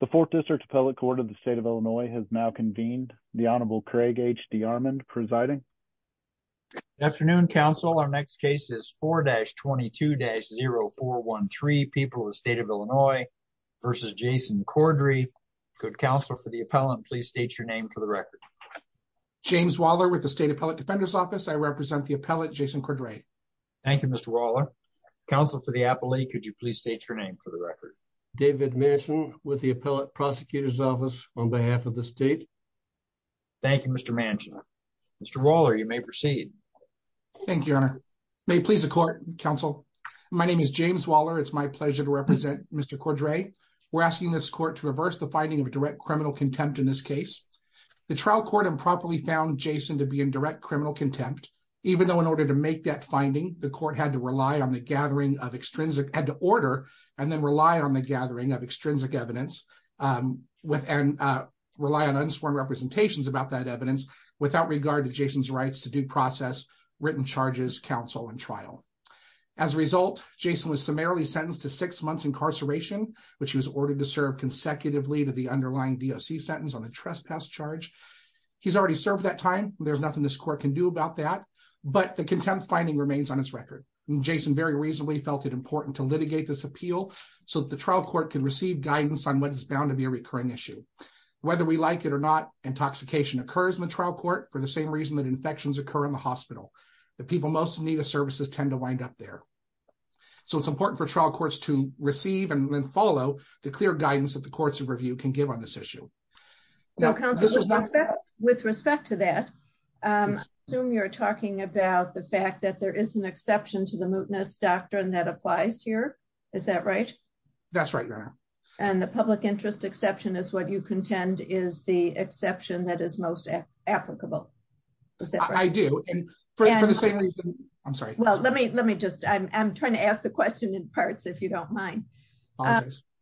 The fourth district appellate court of the state of Illinois has now convened. The Honorable Craig H. D. Armond presiding. Good afternoon, counsel. Our next case is 4-22-0413, People of the State of Illinois v. Jason Cordray. Could counsel for the appellant please state your name for the record? James Waller with the State Appellate Defender's Office. I represent the appellant Jason Cordray. Thank you, Mr. Waller. Counsel for the appellate, could you please state your name for the record? David Manchin with the Appellate Prosecutor's Office on behalf of the state. Thank you, Mr. Manchin. Mr. Waller, you may proceed. Thank you, Your Honor. May it please the court, counsel? My name is James Waller. It's my pleasure to represent Mr. Cordray. We're asking this court to reverse the finding of direct criminal contempt in this case. The trial court improperly found Jason to be in direct criminal contempt, even though in order to make that finding, the court had to rely on the gathering of extrinsic evidence and rely on unsworn representations about that evidence without regard to Jason's rights to due process, written charges, counsel, and trial. As a result, Jason was summarily sentenced to six months incarceration, which he was ordered to serve consecutively to the underlying DOC sentence on the trespass charge. He's already served that time. There's nothing this court can do about that, but the contempt finding remains on its record. Jason very reasonably felt it important to litigate this appeal so that the trial court can receive guidance on what is bound to be a recurring issue. Whether we like it or not, intoxication occurs in the trial court for the same reason that infections occur in the hospital. The people most in need of services tend to wind up there. So it's important for trial courts to receive and then follow the clear guidance that the courts of review can give on this issue. So, counsel, with respect to that, I assume you're talking about the fact that there is exception to the mootness doctrine that applies here. Is that right? That's right. And the public interest exception is what you contend is the exception that is most applicable. I do. And for the same reason, I'm sorry. Well, let me let me just I'm trying to ask the question in parts if you don't mind.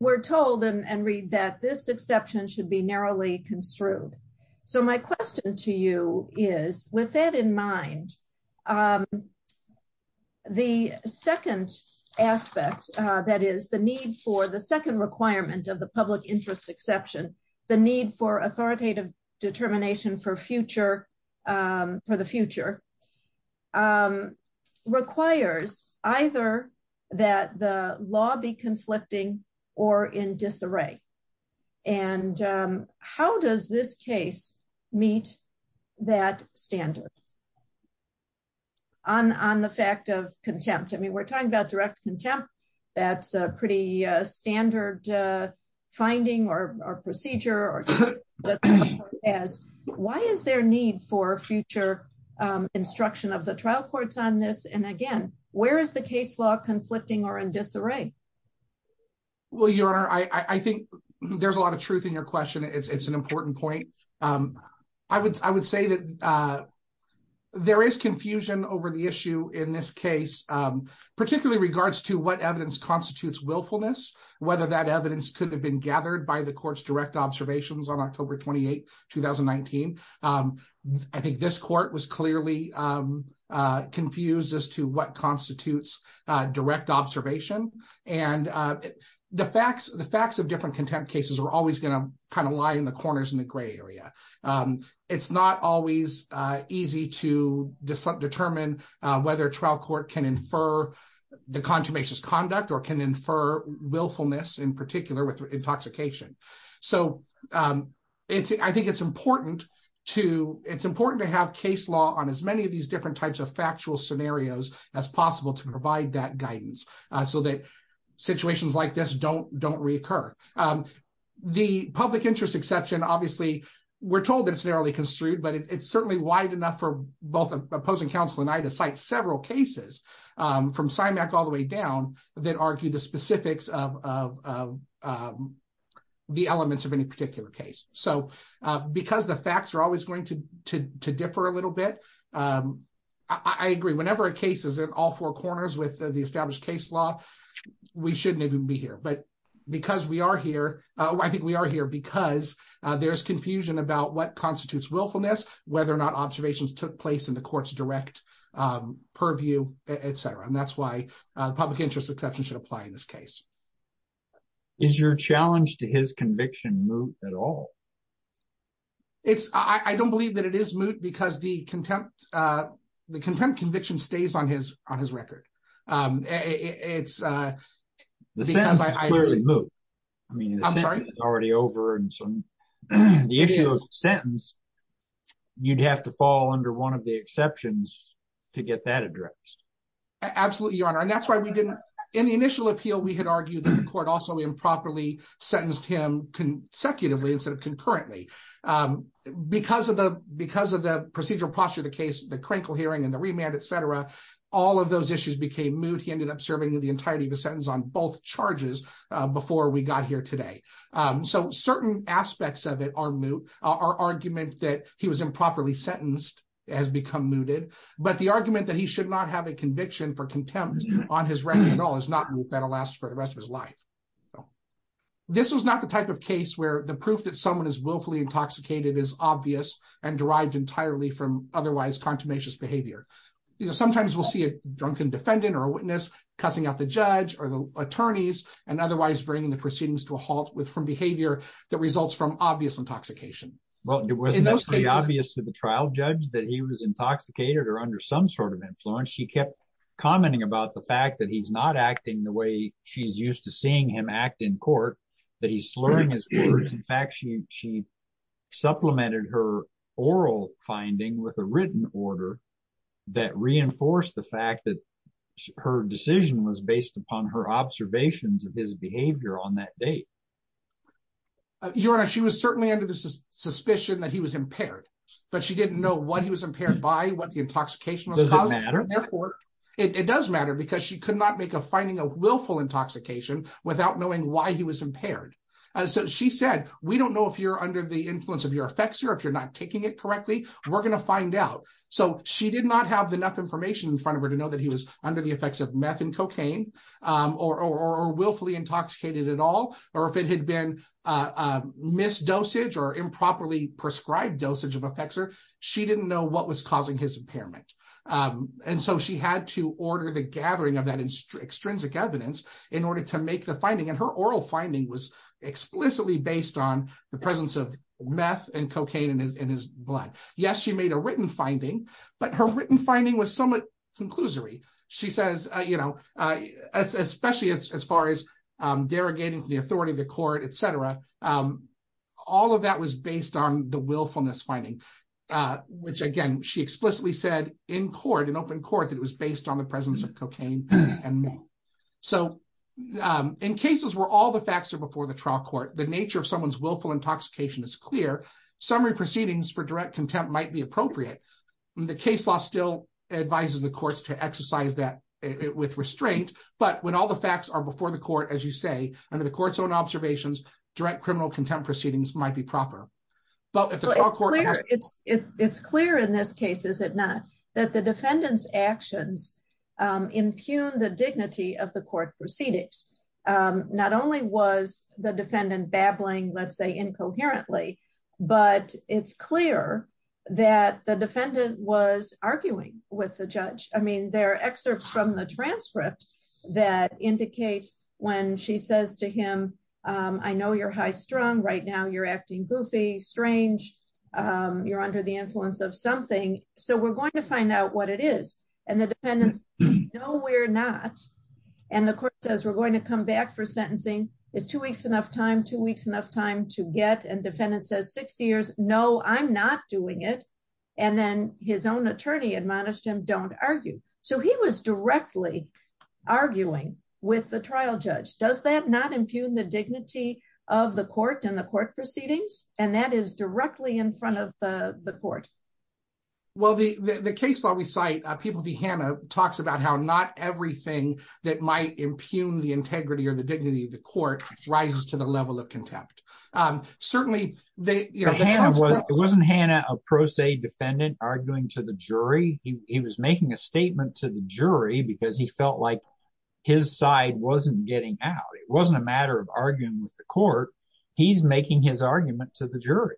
We're told and read that this exception should be narrowly construed. So my question to you is with that in mind, the second aspect, that is the need for the second requirement of the public interest exception, the need for authoritative determination for future for the future requires either that the law be conflicting or in disarray. And how does this case meet that standard? On the fact of contempt, I mean, we're talking about direct contempt. That's a pretty standard finding or procedure as why is there need for future instruction of the trial courts on this? And again, where is the case law conflicting or in disarray? Well, your honor, I think there's a lot of truth in your question. It's an important point. I would I would say that there is confusion over the issue in this case, particularly regards to what evidence constitutes willfulness, whether that evidence could have been gathered by the court's direct observations on October 28, 2019. I think this court was clearly confused as to what constitutes direct observation. And the facts, the facts of different contempt cases are always going to kind of lie in the corners in the gray area. It's not always easy to determine whether a trial court can infer the consummation's conduct or can infer willfulness in particular with intoxication. So it's I think it's important to it's important to have case law on as many of these different types of factual scenarios as possible to provide that guidance so that situations like this don't reoccur. The public interest exception, obviously, we're told it's narrowly construed, but it's certainly wide enough for both opposing counsel and I to cite several cases from CIMAC all the way down that argue the specifics of the elements of any particular case. So because the facts are always going to to differ a little bit, I agree whenever a case is all four corners with the established case law, we shouldn't even be here. But because we are here, I think we are here because there's confusion about what constitutes willfulness, whether or not observations took place in the court's direct purview, etc. And that's why public interest exception should apply in this case. Is your challenge to his conviction moot at all? It's I don't believe that it is moot because the contempt the contempt conviction stays on his on his record. It's because I clearly move. I mean, I'm sorry, it's already over. And so the issue is sentence. You'd have to fall under one of the exceptions to get that addressed. Absolutely, Your Honor. And that's why we didn't in the initial appeal, we had argued that the because of the because of the procedural posture, the case, the crinkle hearing and the remand, etc. All of those issues became moot. He ended up serving the entirety of the sentence on both charges before we got here today. So certain aspects of it are moot. Our argument that he was improperly sentenced has become mooted. But the argument that he should not have a conviction for contempt on his record at all is not that will last for the rest of his life. So this was not the type of case where the proof that someone is willfully intoxicated is obvious and derived entirely from otherwise contumacious behavior. Sometimes we'll see a drunken defendant or a witness cussing out the judge or the attorneys and otherwise bringing the proceedings to a halt with from behavior that results from obvious intoxication. Well, it was obvious to the trial judge that he was intoxicated or under some sort of influence. She kept commenting about the act in court that he's slurring his words. In fact, she she supplemented her oral finding with a written order that reinforced the fact that her decision was based upon her observations of his behavior on that date. Your Honor, she was certainly under the suspicion that he was impaired, but she didn't know what he was impaired by what the intoxication was. Does it matter? Therefore, it does matter because she could not make a finding of willful intoxication without knowing why he was impaired. So she said, we don't know if you're under the influence of your effects or if you're not taking it correctly. We're going to find out. So she did not have enough information in front of her to know that he was under the effects of meth and cocaine or willfully intoxicated at all, or if it had been a misdosage or improperly prescribed dosage of effects or she didn't know what was causing his impairment. And so she had to order the finding and her oral finding was explicitly based on the presence of meth and cocaine in his blood. Yes, she made a written finding, but her written finding was somewhat conclusory. She says, you know, especially as far as derogating the authority of the court, etc. All of that was based on the willfulness finding, which, again, she explicitly said in court, in open court, it was based on the presence of cocaine and meth. So in cases where all the facts are before the trial court, the nature of someone's willful intoxication is clear. Summary proceedings for direct contempt might be appropriate. The case law still advises the courts to exercise that with restraint. But when all the facts are before the court, as you say, under the court's own observations, direct criminal contempt proceedings might be proper. But it's clear in this case, is it not, that the defendant's actions impugned the dignity of the court proceedings. Not only was the defendant babbling, let's say incoherently, but it's clear that the defendant was arguing with the judge. I mean, there are excerpts from the transcript that indicate when she says to him, I know you're high strung right now, you're acting goofy, strange, you're under the influence of something. So we're going to find out what it is. And the defendants know we're not. And the court says we're going to come back for sentencing is two weeks enough time, two weeks enough time to get and defendant says six years. No, I'm not doing it. And then his own attorney admonished him don't argue. So he was directly arguing with the trial judge, does that not impugn the dignity of the court and the court proceedings, and that is directly in front of the court? Well, the the case law we cite people be Hannah talks about how not everything that might impugn the integrity or the dignity of the court rises to the level of contempt. Certainly, they wasn't Hannah a pro se defendant arguing to the his side wasn't getting out. It wasn't a matter of arguing with the court. He's making his argument to the jury.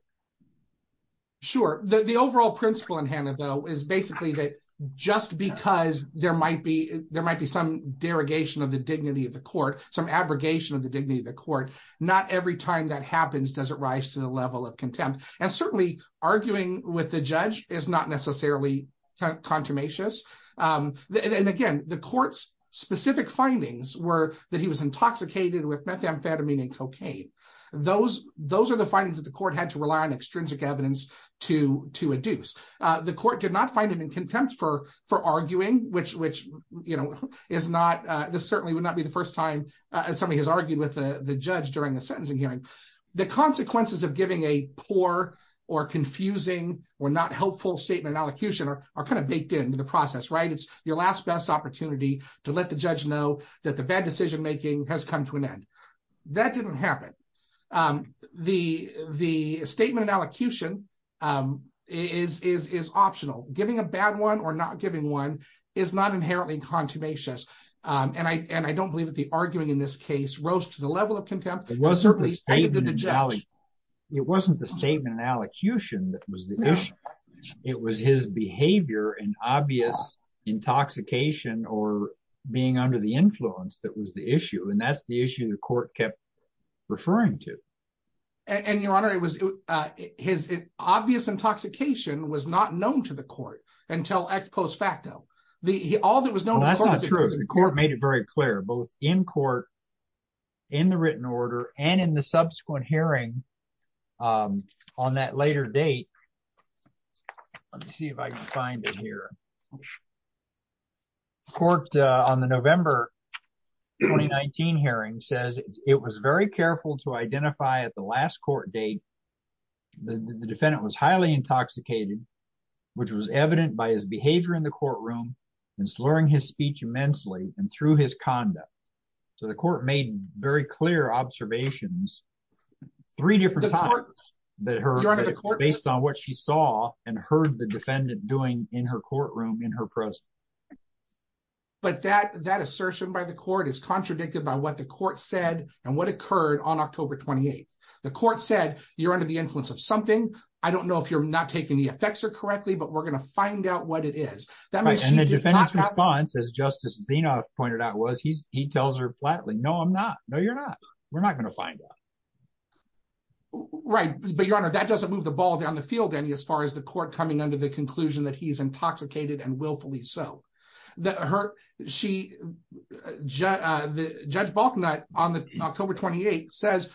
Sure. The overall principle in hand, though, is basically that just because there might be there might be some derogation of the dignity of the court, some abrogation of the dignity of the court. Not every time that happens, does it rise to the level of contempt? And specific findings were that he was intoxicated with methamphetamine and cocaine. Those those are the findings that the court had to rely on extrinsic evidence to to adduce. The court did not find him in contempt for for arguing which which, you know, is not this certainly would not be the first time somebody has argued with the judge during the sentencing hearing. The consequences of giving a poor or confusing or not helpful statement allocution are kind of baked into the process, right? It's your last best opportunity to let the judge know that the bad decision making has come to an end. That didn't happen. The the statement in allocution is is is optional. Giving a bad one or not giving one is not inherently contumacious. And I and I don't believe that the arguing in this case rose to the level of contempt. It was certainly it wasn't the statement in allocution that was the issue. It was his behavior and obvious intoxication or being under the influence that was the issue. And that's the issue the court kept referring to. And your honor, it was his obvious intoxication was not known to the court until ex post facto. The all that was known. That's not true. The court made it very clear, both in court in the written order and in the subsequent hearing on that later date. Let me see if I can find it here. Court on the November 2019 hearing says it was very careful to identify at the last court date. The defendant was highly intoxicated, which was evident by his So the court made very clear observations three different times that her based on what she saw and heard the defendant doing in her courtroom in her presence. But that that assertion by the court is contradicted by what the court said and what occurred on October 28th. The court said you're under the influence of something. I don't know if you're not taking the effects are correctly, but we're going to find out what it is in the defense response, as Justice Zinoff pointed out, was he's he tells her flatly, No, I'm not. No, you're not. We're not going to find out. Right. But your honor, that doesn't move the ball down the field any as far as the court coming under the conclusion that he's intoxicated and willfully so that hurt. She just the judge Balknot on the October 28 says,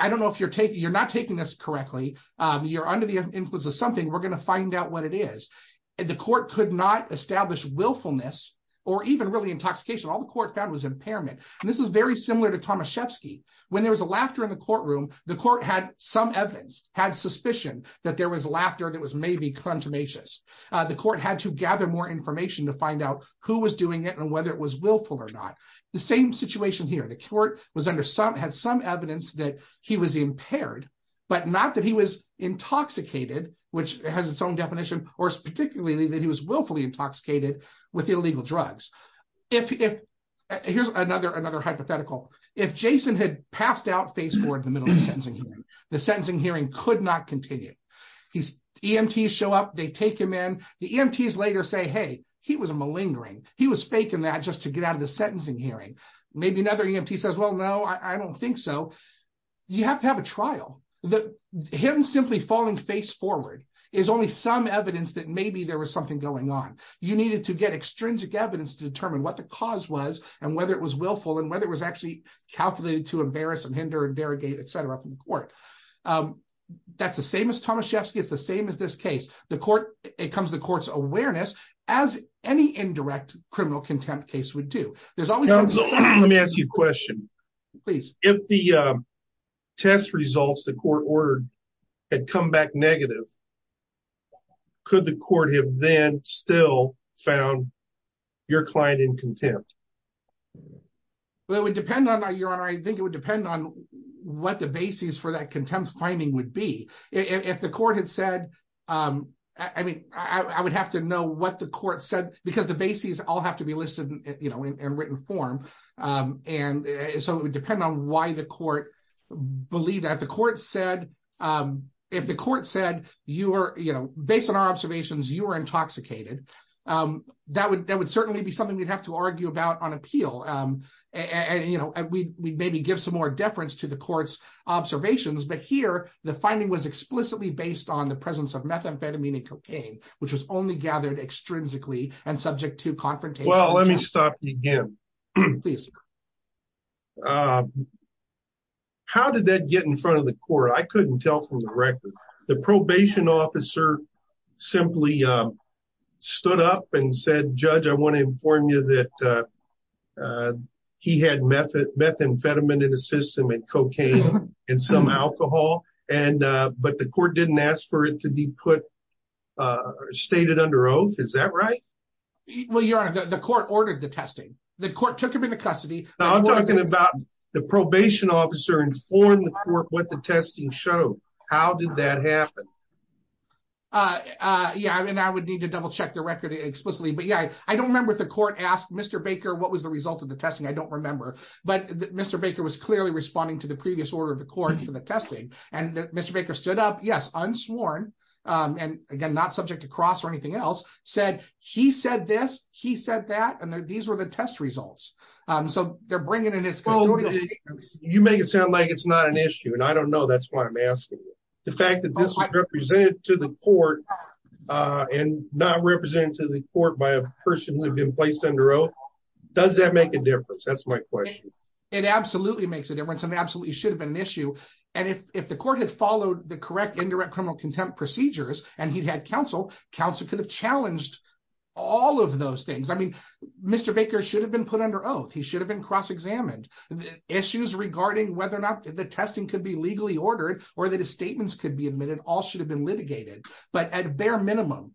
I don't know if you're taking you're not taking this correctly. You're under the influence of something. We're going to find out what it is. The court could not establish willfulness or even really intoxication. All the court found was impairment. And this is very similar to Tomaszewski. When there was a laughter in the courtroom, the court had some evidence had suspicion that there was laughter that was maybe contumacious. The court had to gather more information to find out who was doing it and whether it was willful or not. The same situation here. The court was under some had some evidence that he was impaired, but not that he was intoxicated, which has its own definition, or particularly that he was willfully intoxicated with illegal drugs. If here's another hypothetical, if Jason had passed out face toward the middle of the sentencing hearing, the sentencing hearing could not continue. He's EMT show up. They take him in the EMTs later say, hey, he was malingering. He was faking that just to get out of the sentencing hearing. Maybe another EMT says, no, I don't think so. You have to have a trial that him simply falling face forward is only some evidence that maybe there was something going on. You needed to get extrinsic evidence to determine what the cause was and whether it was willful and whether it was actually calculated to embarrass and hinder and derogate, et cetera, from the court. That's the same as Tomaszewski. It's the same as this case. The court, it comes to the court's awareness as any indirect criminal contempt would do. Let me ask you a question, please. If the test results, the court ordered had come back negative, could the court have then still found your client in contempt? Well, it would depend on your honor. I think it would depend on what the basis for that contempt finding would be. If the court had said, I mean, I would have to know what the court said because the basis all have to be listed in written form. It would depend on why the court believed that. If the court said, based on our observations, you were intoxicated, that would certainly be something we'd have to argue about on appeal. We'd maybe give some more deference to the court's observations, but here the finding was explicitly based on the presence of methamphetamine and Well, let me stop you again. Please. How did that get in front of the court? I couldn't tell from the record. The probation officer simply stood up and said, Judge, I want to inform you that he had methamphetamine in his system and cocaine and some alcohol, but the court didn't ask for it to be put or stated under oath. Is that right? Well, your honor, the court ordered the testing. The court took him into custody. I'm talking about the probation officer informed the court what the testing show. How did that happen? Yeah. And I would need to double check the record explicitly, but yeah, I don't remember if the court asked Mr. Baker, what was the result of the testing? I don't remember, but Mr. Baker was clearly responding to the previous order of the court for the testing. And Mr. Baker stood up, yes, unsworn, and again, not subject to cross or anything else, said he said this, he said that, and these were the test results. So they're bringing in his custodial statements. You make it sound like it's not an issue, and I don't know. That's why I'm asking you. The fact that this was represented to the court and not represented to the court by a person who'd been placed under oath, does that make a difference? That's my issue. And if the court had followed the correct indirect criminal contempt procedures and he'd had counsel, counsel could have challenged all of those things. I mean, Mr. Baker should have been put under oath. He should have been cross-examined. The issues regarding whether or not the testing could be legally ordered or that his statements could be admitted, all should have been litigated. But at bare minimum,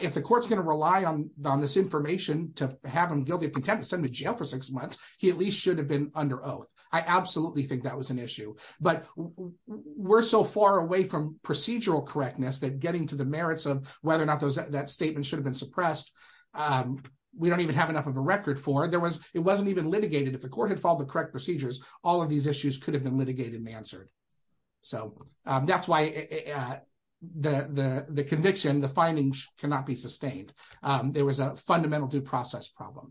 if the court's going to rely on this information to have him guilty of contempt and send him to jail for six months, he at least should have been under oath. I absolutely think that was an issue. But we're so far away from procedural correctness that getting to the merits of whether or not that statement should have been suppressed, we don't even have enough of a record for it. It wasn't even litigated. If the court had followed the correct procedures, all of these issues could have been litigated and answered. So that's why the conviction, the findings cannot be sustained. There was a fundamental due process problem.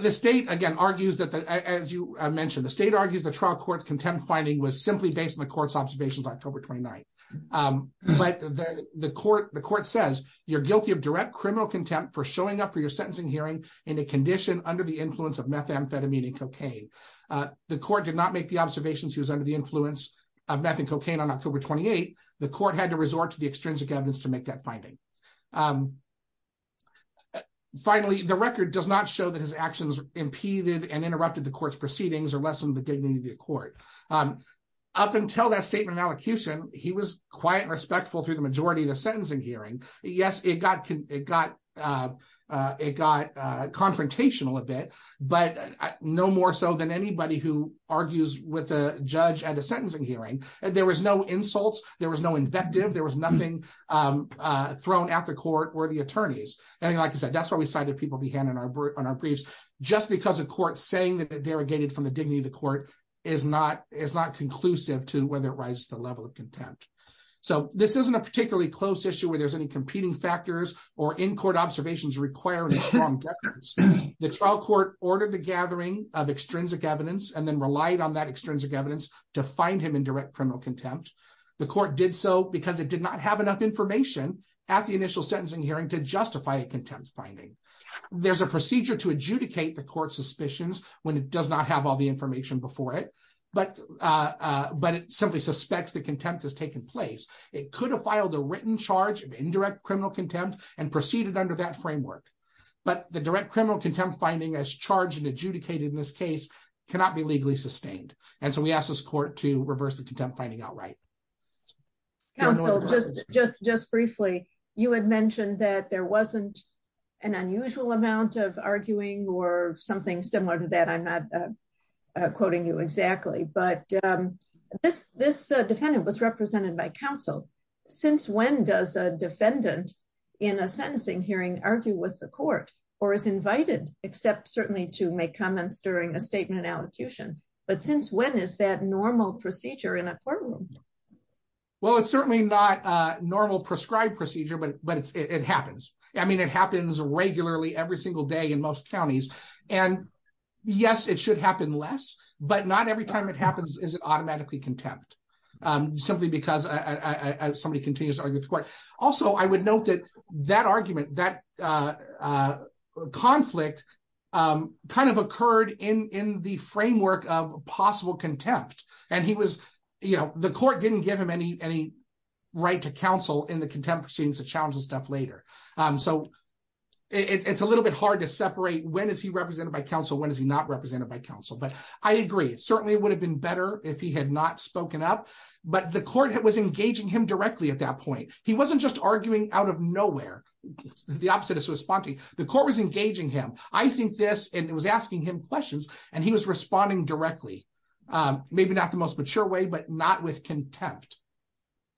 The state, again, argues that, as you mentioned, the state argues the trial court's contempt finding was simply based on the court's observations on October 29. But the court says, you're guilty of direct criminal contempt for showing up for your sentencing hearing in a condition under the influence of methamphetamine and cocaine. The court did not make the observations he was under the influence of meth and cocaine on October 28. The court had to resort to the Finally, the record does not show that his actions impeded and interrupted the court's proceedings or lessen the dignity of the court. Up until that statement in allocution, he was quiet and respectful through the majority of the sentencing hearing. Yes, it got confrontational a bit, but no more so than anybody who argues with a judge at a sentencing hearing. There was no insults. There was no invective. There was nothing thrown at the court or the attorneys. Like I said, that's why we cited people behind on our briefs, just because a court saying that it derogated from the dignity of the court is not conclusive to whether it rises to the level of contempt. This isn't a particularly close issue where there's any competing factors or in-court observations requiring a strong deference. The trial court ordered the gathering of extrinsic evidence and then relied on that extrinsic evidence to find him in direct criminal contempt. The court did so because it did not have enough information at the initial sentencing hearing to justify a contempt finding. There's a procedure to adjudicate the court's suspicions when it does not have all the information before it, but it simply suspects that contempt has taken place. It could have filed a written charge of indirect criminal contempt and proceeded under that framework, but the direct criminal contempt finding as charged and adjudicated in this case cannot be legally sustained, and so we asked this court to reverse the contempt finding outright. Counsel, just briefly, you had mentioned that there wasn't an unusual amount of arguing or something similar to that. I'm not quoting you exactly, but this defendant was represented by counsel. Since when does a defendant in a sentencing hearing argue with the court or is invited, except certainly to make comments during a statement allocution, but since when is that procedure in a courtroom? Well, it's certainly not a normal prescribed procedure, but it happens. I mean, it happens regularly every single day in most counties, and yes, it should happen less, but not every time it happens is it automatically contempt simply because somebody continues to argue with the court. Also, I would note that that argument, that conflict kind of occurred in the framework of possible contempt, and the court didn't give him any right to counsel in the contempt proceedings to challenge this stuff later, so it's a little bit hard to separate when is he represented by counsel, when is he not represented by counsel, but I agree. It certainly would have been better if he had not spoken up, but the court was engaging him directly at that point. He wasn't just arguing out of nowhere. The opposite is responding. The court was engaging him. I think this, and it was asking him questions, and he was responding directly, maybe not the most mature way, but not with contempt.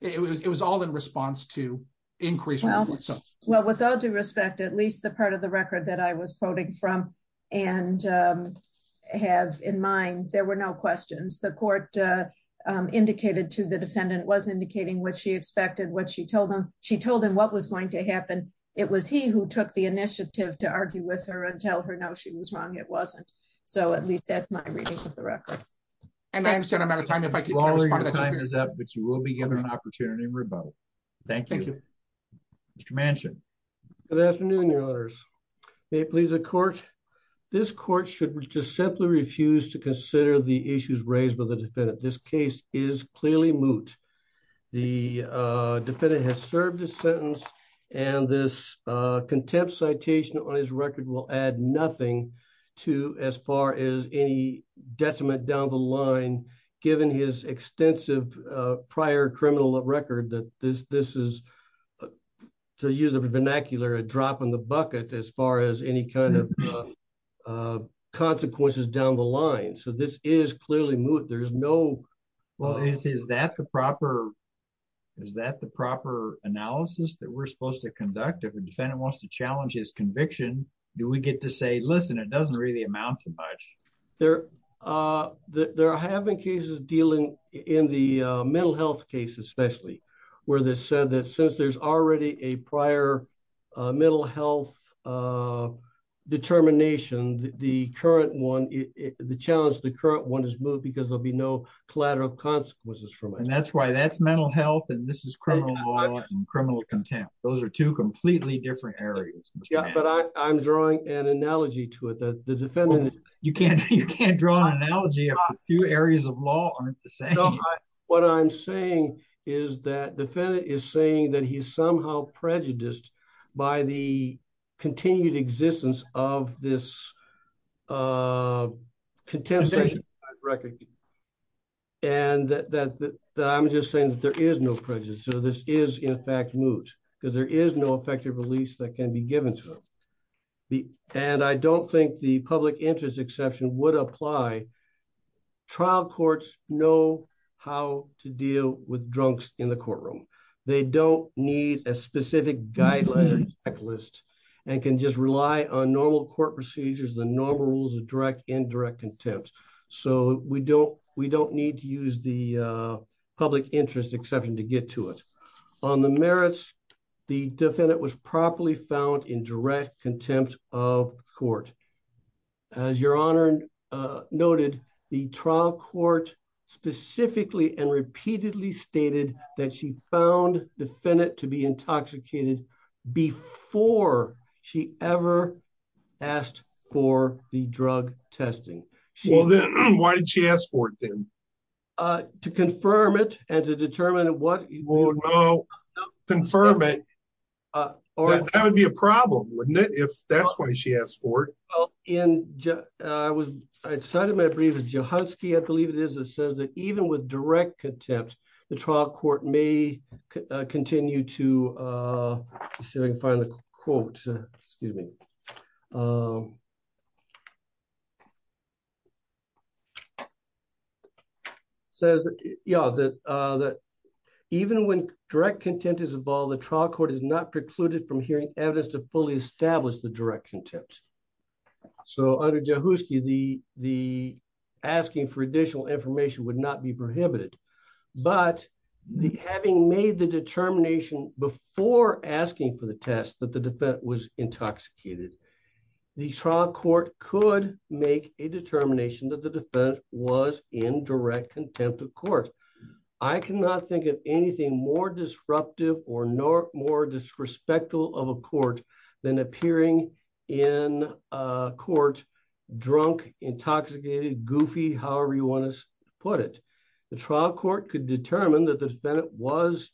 It was all in response to increase. Well, with all due respect, at least the part of the record that I was quoting from and have in mind, there were no questions. The court indicated to the defendant, was indicating what she expected, what she told him. She told him what was going to happen. It was he who took the initiative to argue with her and tell her, no, she was wrong, it wasn't. So at least that's my reading of the record. And I understand I'm out of time, if I could respond. Your time is up, but you will be given an opportunity to rebuttal. Thank you. Thank you. Mr. Manchin. Good afternoon, your honors. May it please the court. This court should just simply refuse to consider the issues raised by the defendant. This case is clearly moot. The defendant has served his sentence and this contempt citation on his record will add nothing to as far as any detriment down the line, given his extensive prior criminal record that this is, to use the vernacular, a drop in the bucket as far as any kind of consequences down the line. So this is clearly moot. There's no... Well, is that the proper analysis that we're supposed to conduct? If a defendant wants to challenge his conviction, do we get to say, listen, it doesn't really amount to much. They're having cases dealing in the mental health case, especially where they said that since there's already a prior mental health determination, the current one, the challenge, the current one is moot because there'll be no collateral consequences from it. And that's why that's criminal contempt. Those are two completely different areas. But I'm drawing an analogy to it that the defendant... You can't draw an analogy if a few areas of law aren't the same. What I'm saying is that defendant is saying that he's somehow prejudiced by the continued existence of this contempt citation on his record. And that I'm just saying that there is no prejudice. So this is in fact moot because there is no effective release that can be given to him. And I don't think the public interest exception would apply. Trial courts know how to deal with drunks in the courtroom. They don't need a specific guideline checklist and can just rely on normal court procedures, the normal rules of direct, direct contempt. So we don't need to use the public interest exception to get to it. On the merits, the defendant was properly found in direct contempt of court. As your honor noted, the trial court specifically and repeatedly stated that she found defendant to be intoxicated before she ever asked for the drug testing. Why did she ask for it then? To confirm it and to determine what... Confirm it. That would be a problem, wouldn't it? If that's why she asked for it. I cited my brief as Johansky. I believe it is. It says that even with direct contempt, the trial court may continue to... Let's see if I can find the quote. Excuse me. Says that even when direct contempt is involved, the trial court is not precluded from hearing evidence to fully establish the direct contempt. So under Johansky, the asking for additional information would not be prohibited. But having made the determination before asking for the test that the defendant was intoxicated, the trial court could make a determination that the defendant was in direct contempt of court. I cannot think of anything more disruptive or more disrespectful of a court than appearing in a court drunk, intoxicated, goofy, however you want to put it. The trial court could determine that the defendant was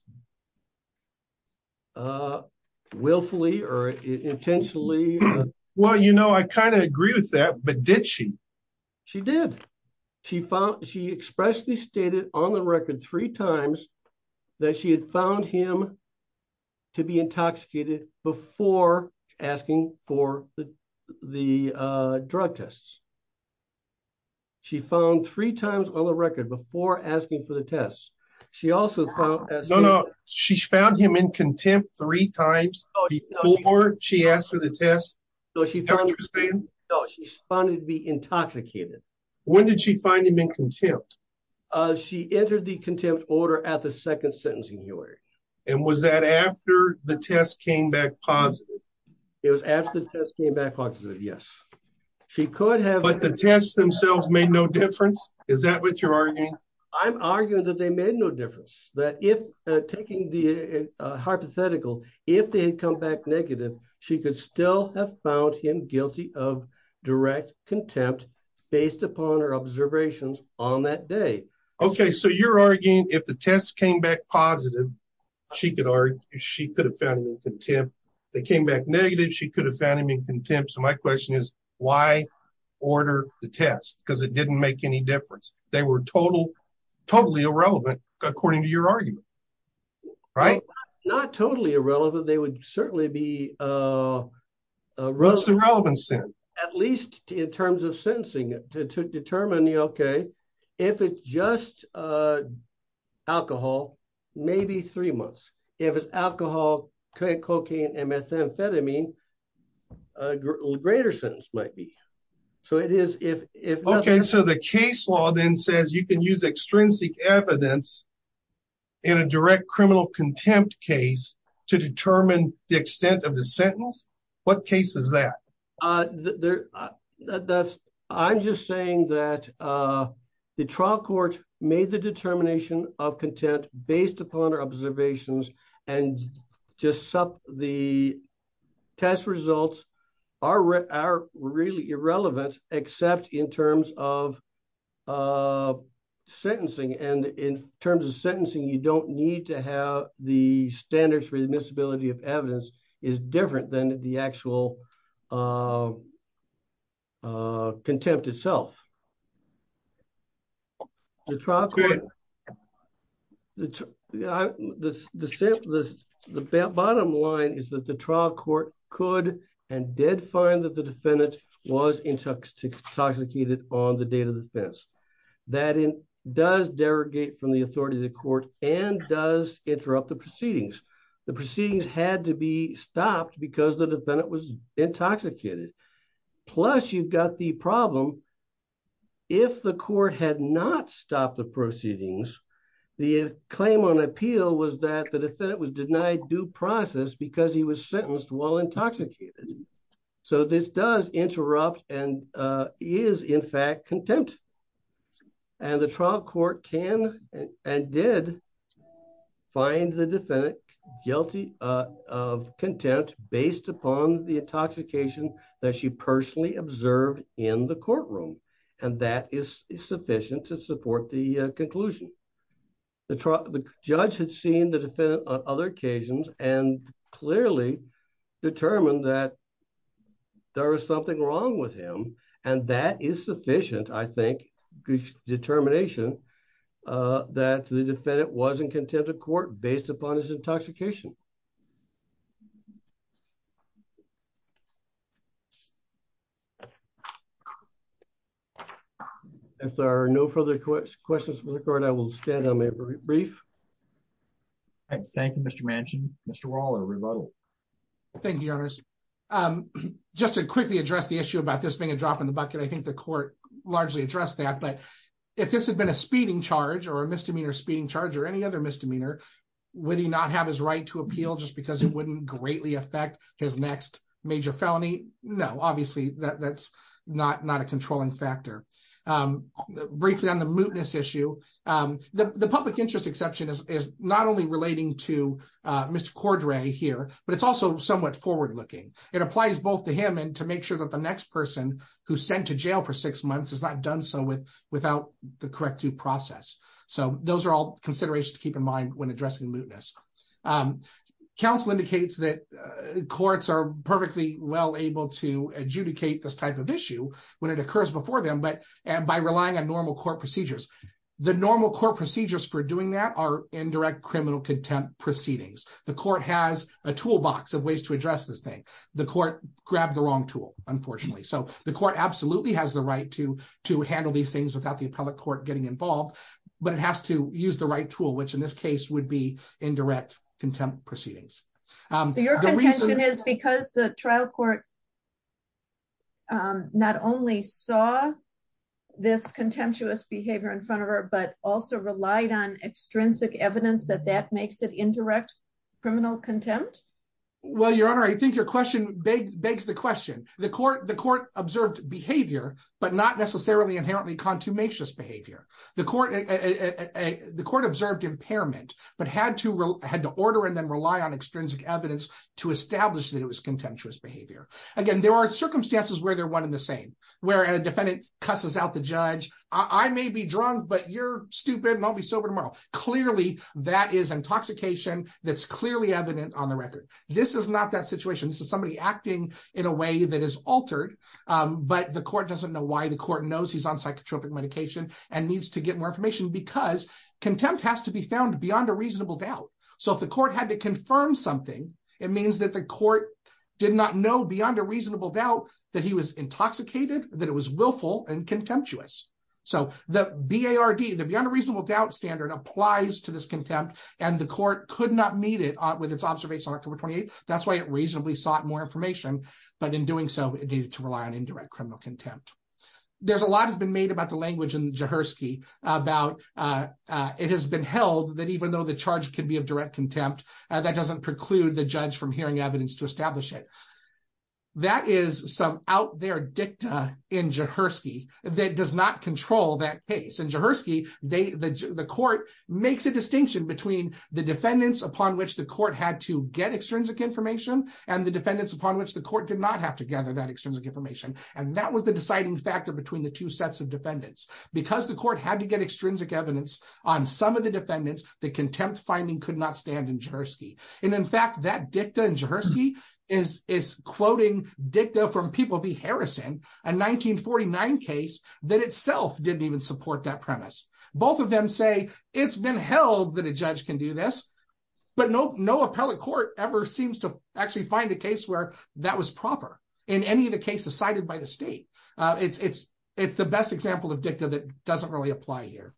willfully or intentionally... Well, you know, I kind of agree with that, but did she? She did. She expressly stated on the record three times that she had found him to be intoxicated before asking for the drug tests. She found three times on the record before asking for the test. She also found... No, no. She found him in contempt three times before she asked for the test. No, she found him to be intoxicated. When did she find him in contempt? She entered the contempt order at the second sentencing hearing. And was that after the test came back positive? It was after the test came back positive, yes. She could have... But the tests themselves made no difference? Is that what you're arguing? I'm arguing that they made no difference. That if, taking the hypothetical, if they had come back negative, she could still have found him guilty of direct contempt based upon her observations on that day. Okay. So you're arguing if the test came back positive, she could argue she could have found him in contempt. They came back negative, she could have found him in contempt. So my question is why order the test? Because it didn't make any difference. They were totally irrelevant according to your argument, right? Not totally irrelevant. They would certainly be... What's the relevance then? At least in terms of sentencing, to determine, okay, if it's just alcohol, maybe three months. If it's alcohol, cocaine, and methamphetamine, a greater sentence might be. So it is if... Okay. So the case law then says you can use extrinsic evidence in a direct criminal contempt case to determine the extent of the sentence. What case is that? I'm just saying that the trial court made the determination of contempt based upon our observations and just the test results are really irrelevant, except in terms of sentencing. And in terms of sentencing, you don't need to have the standards for admissibility of evidence is different than the actual contempt itself. The trial court... The bottom line is that the trial court could and did find that the defendant was intoxicated on the date of defense. That does derogate from the authority of the court and does interrupt the proceedings. The proceedings had to be stopped because the defendant was intoxicated. Plus you've got the problem. If the court had not stopped the proceedings, the claim on appeal was that the defendant was denied due process because he was sentenced while intoxicated. So this does interrupt and is in fact contempt. And the trial court can and did find the defendant guilty of contempt based upon the intoxication that she personally observed in the courtroom. And that is sufficient to support the conclusion. The judge had seen the defendant on other occasions and clearly determined that there was something wrong with him. And that is sufficient, I think, determination that the defendant was in contempt of court based upon his intoxication. If there are no further questions for the court, I will stand on my brief. All right. Thank you, Mr. Manchin. Mr. Waller, rebuttal. Thank you, Your Honor. Just to quickly address the issue about this being a drop in the bucket, I think the court largely addressed that. But if this had been a speeding charge or a misdemeanor speeding charge or any other misdemeanor, would he not have his right to appeal just because it wouldn't greatly affect his next major felony? No, obviously, that's not a controlling factor. Briefly on the mootness issue, the public interest exception is not only relating to Mr. Cordray here, but it's also somewhat forward looking. It applies both to him and to make sure that the next person who's sent to jail for six months is not done so without the correct due process. So those are all considerations to keep in mind when addressing the mootness. Counsel indicates that courts are perfectly well able to adjudicate this type of issue when it occurs before them, but by relying on normal court procedures. The normal court procedures for doing that are indirect criminal contempt proceedings. The court has a toolbox of ways to address this thing. The court grabbed the wrong tool, unfortunately. So the court absolutely has the right to handle these things without the appellate court getting involved, but it has to use the right tool, which in this case would be indirect contempt proceedings. Your contention is because the trial court not only saw this contemptuous behavior in front of her, but also relied on extrinsic evidence that that makes it indirect criminal contempt? Well, Your Honor, I think your question begs the question. The court observed behavior, but not necessarily inherently contumacious behavior. The court observed impairment, but had to order and then rely on extrinsic evidence to establish that it was contemptuous behavior. Again, there are circumstances where they're one and the same, where a defendant cusses out the judge. I may be drunk, but you're stupid and I'll be sober tomorrow. Clearly, that is intoxication that's clearly evident on the record. This is not that situation. This is somebody acting in a way that is altered, but the court doesn't know why. The court knows he's on psychotropic medication and needs to get more information because contempt has to be found beyond a reasonable doubt. So if the court had to confirm something, it means that the court did not know beyond a reasonable doubt that he was intoxicated, that it was willful, and contemptuous. So the BARD, the beyond a reasonable doubt standard, applies to this contempt, and the court could not meet it with its observations on October 28th. That's why it reasonably sought more information, but in doing so, it needed to rely on indirect criminal contempt. There's a lot that's been made about the language in Jaworski about it has been held that even though the charge can be of direct contempt, that doesn't preclude the judge from hearing evidence to establish it. That is some out there dicta in Jaworski that does not control that case. In Jaworski, the court makes a distinction between the defendants upon which the court had to get extrinsic information and the defendants upon which the court did not have to gather that extrinsic information, and that was the deciding factor between the two sets of defendants. Because the court had to get extrinsic evidence on some of the defendants, the contempt finding could not stand in Jaworski. And in fact, that dicta in Jaworski is quoting dicta from People v. Harrison, a 1949 case that itself didn't even support that premise. Both of them say it's been held that a judge can do this, but no appellate court ever seems to actually find a case where that was proper in any of the cases cited by the state. It's the best example of dicta that doesn't really apply here.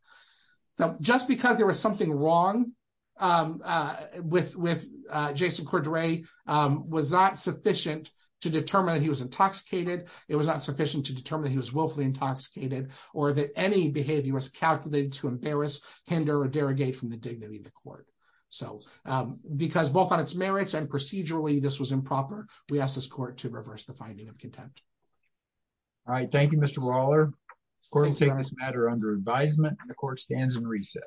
Now, just because there was something wrong with Jason Cordray was not sufficient to determine that he was intoxicated, it was not sufficient to determine that he was willfully intoxicated, or that any behavior was calculated to embarrass, hinder, or derogate from the dignity of the court. So because both on its merits and procedurally this was improper, we ask this court to reverse the finding of contempt. All right. Thank you, Mr. Roller. The court will take this matter under advisement, and the court stands in recess.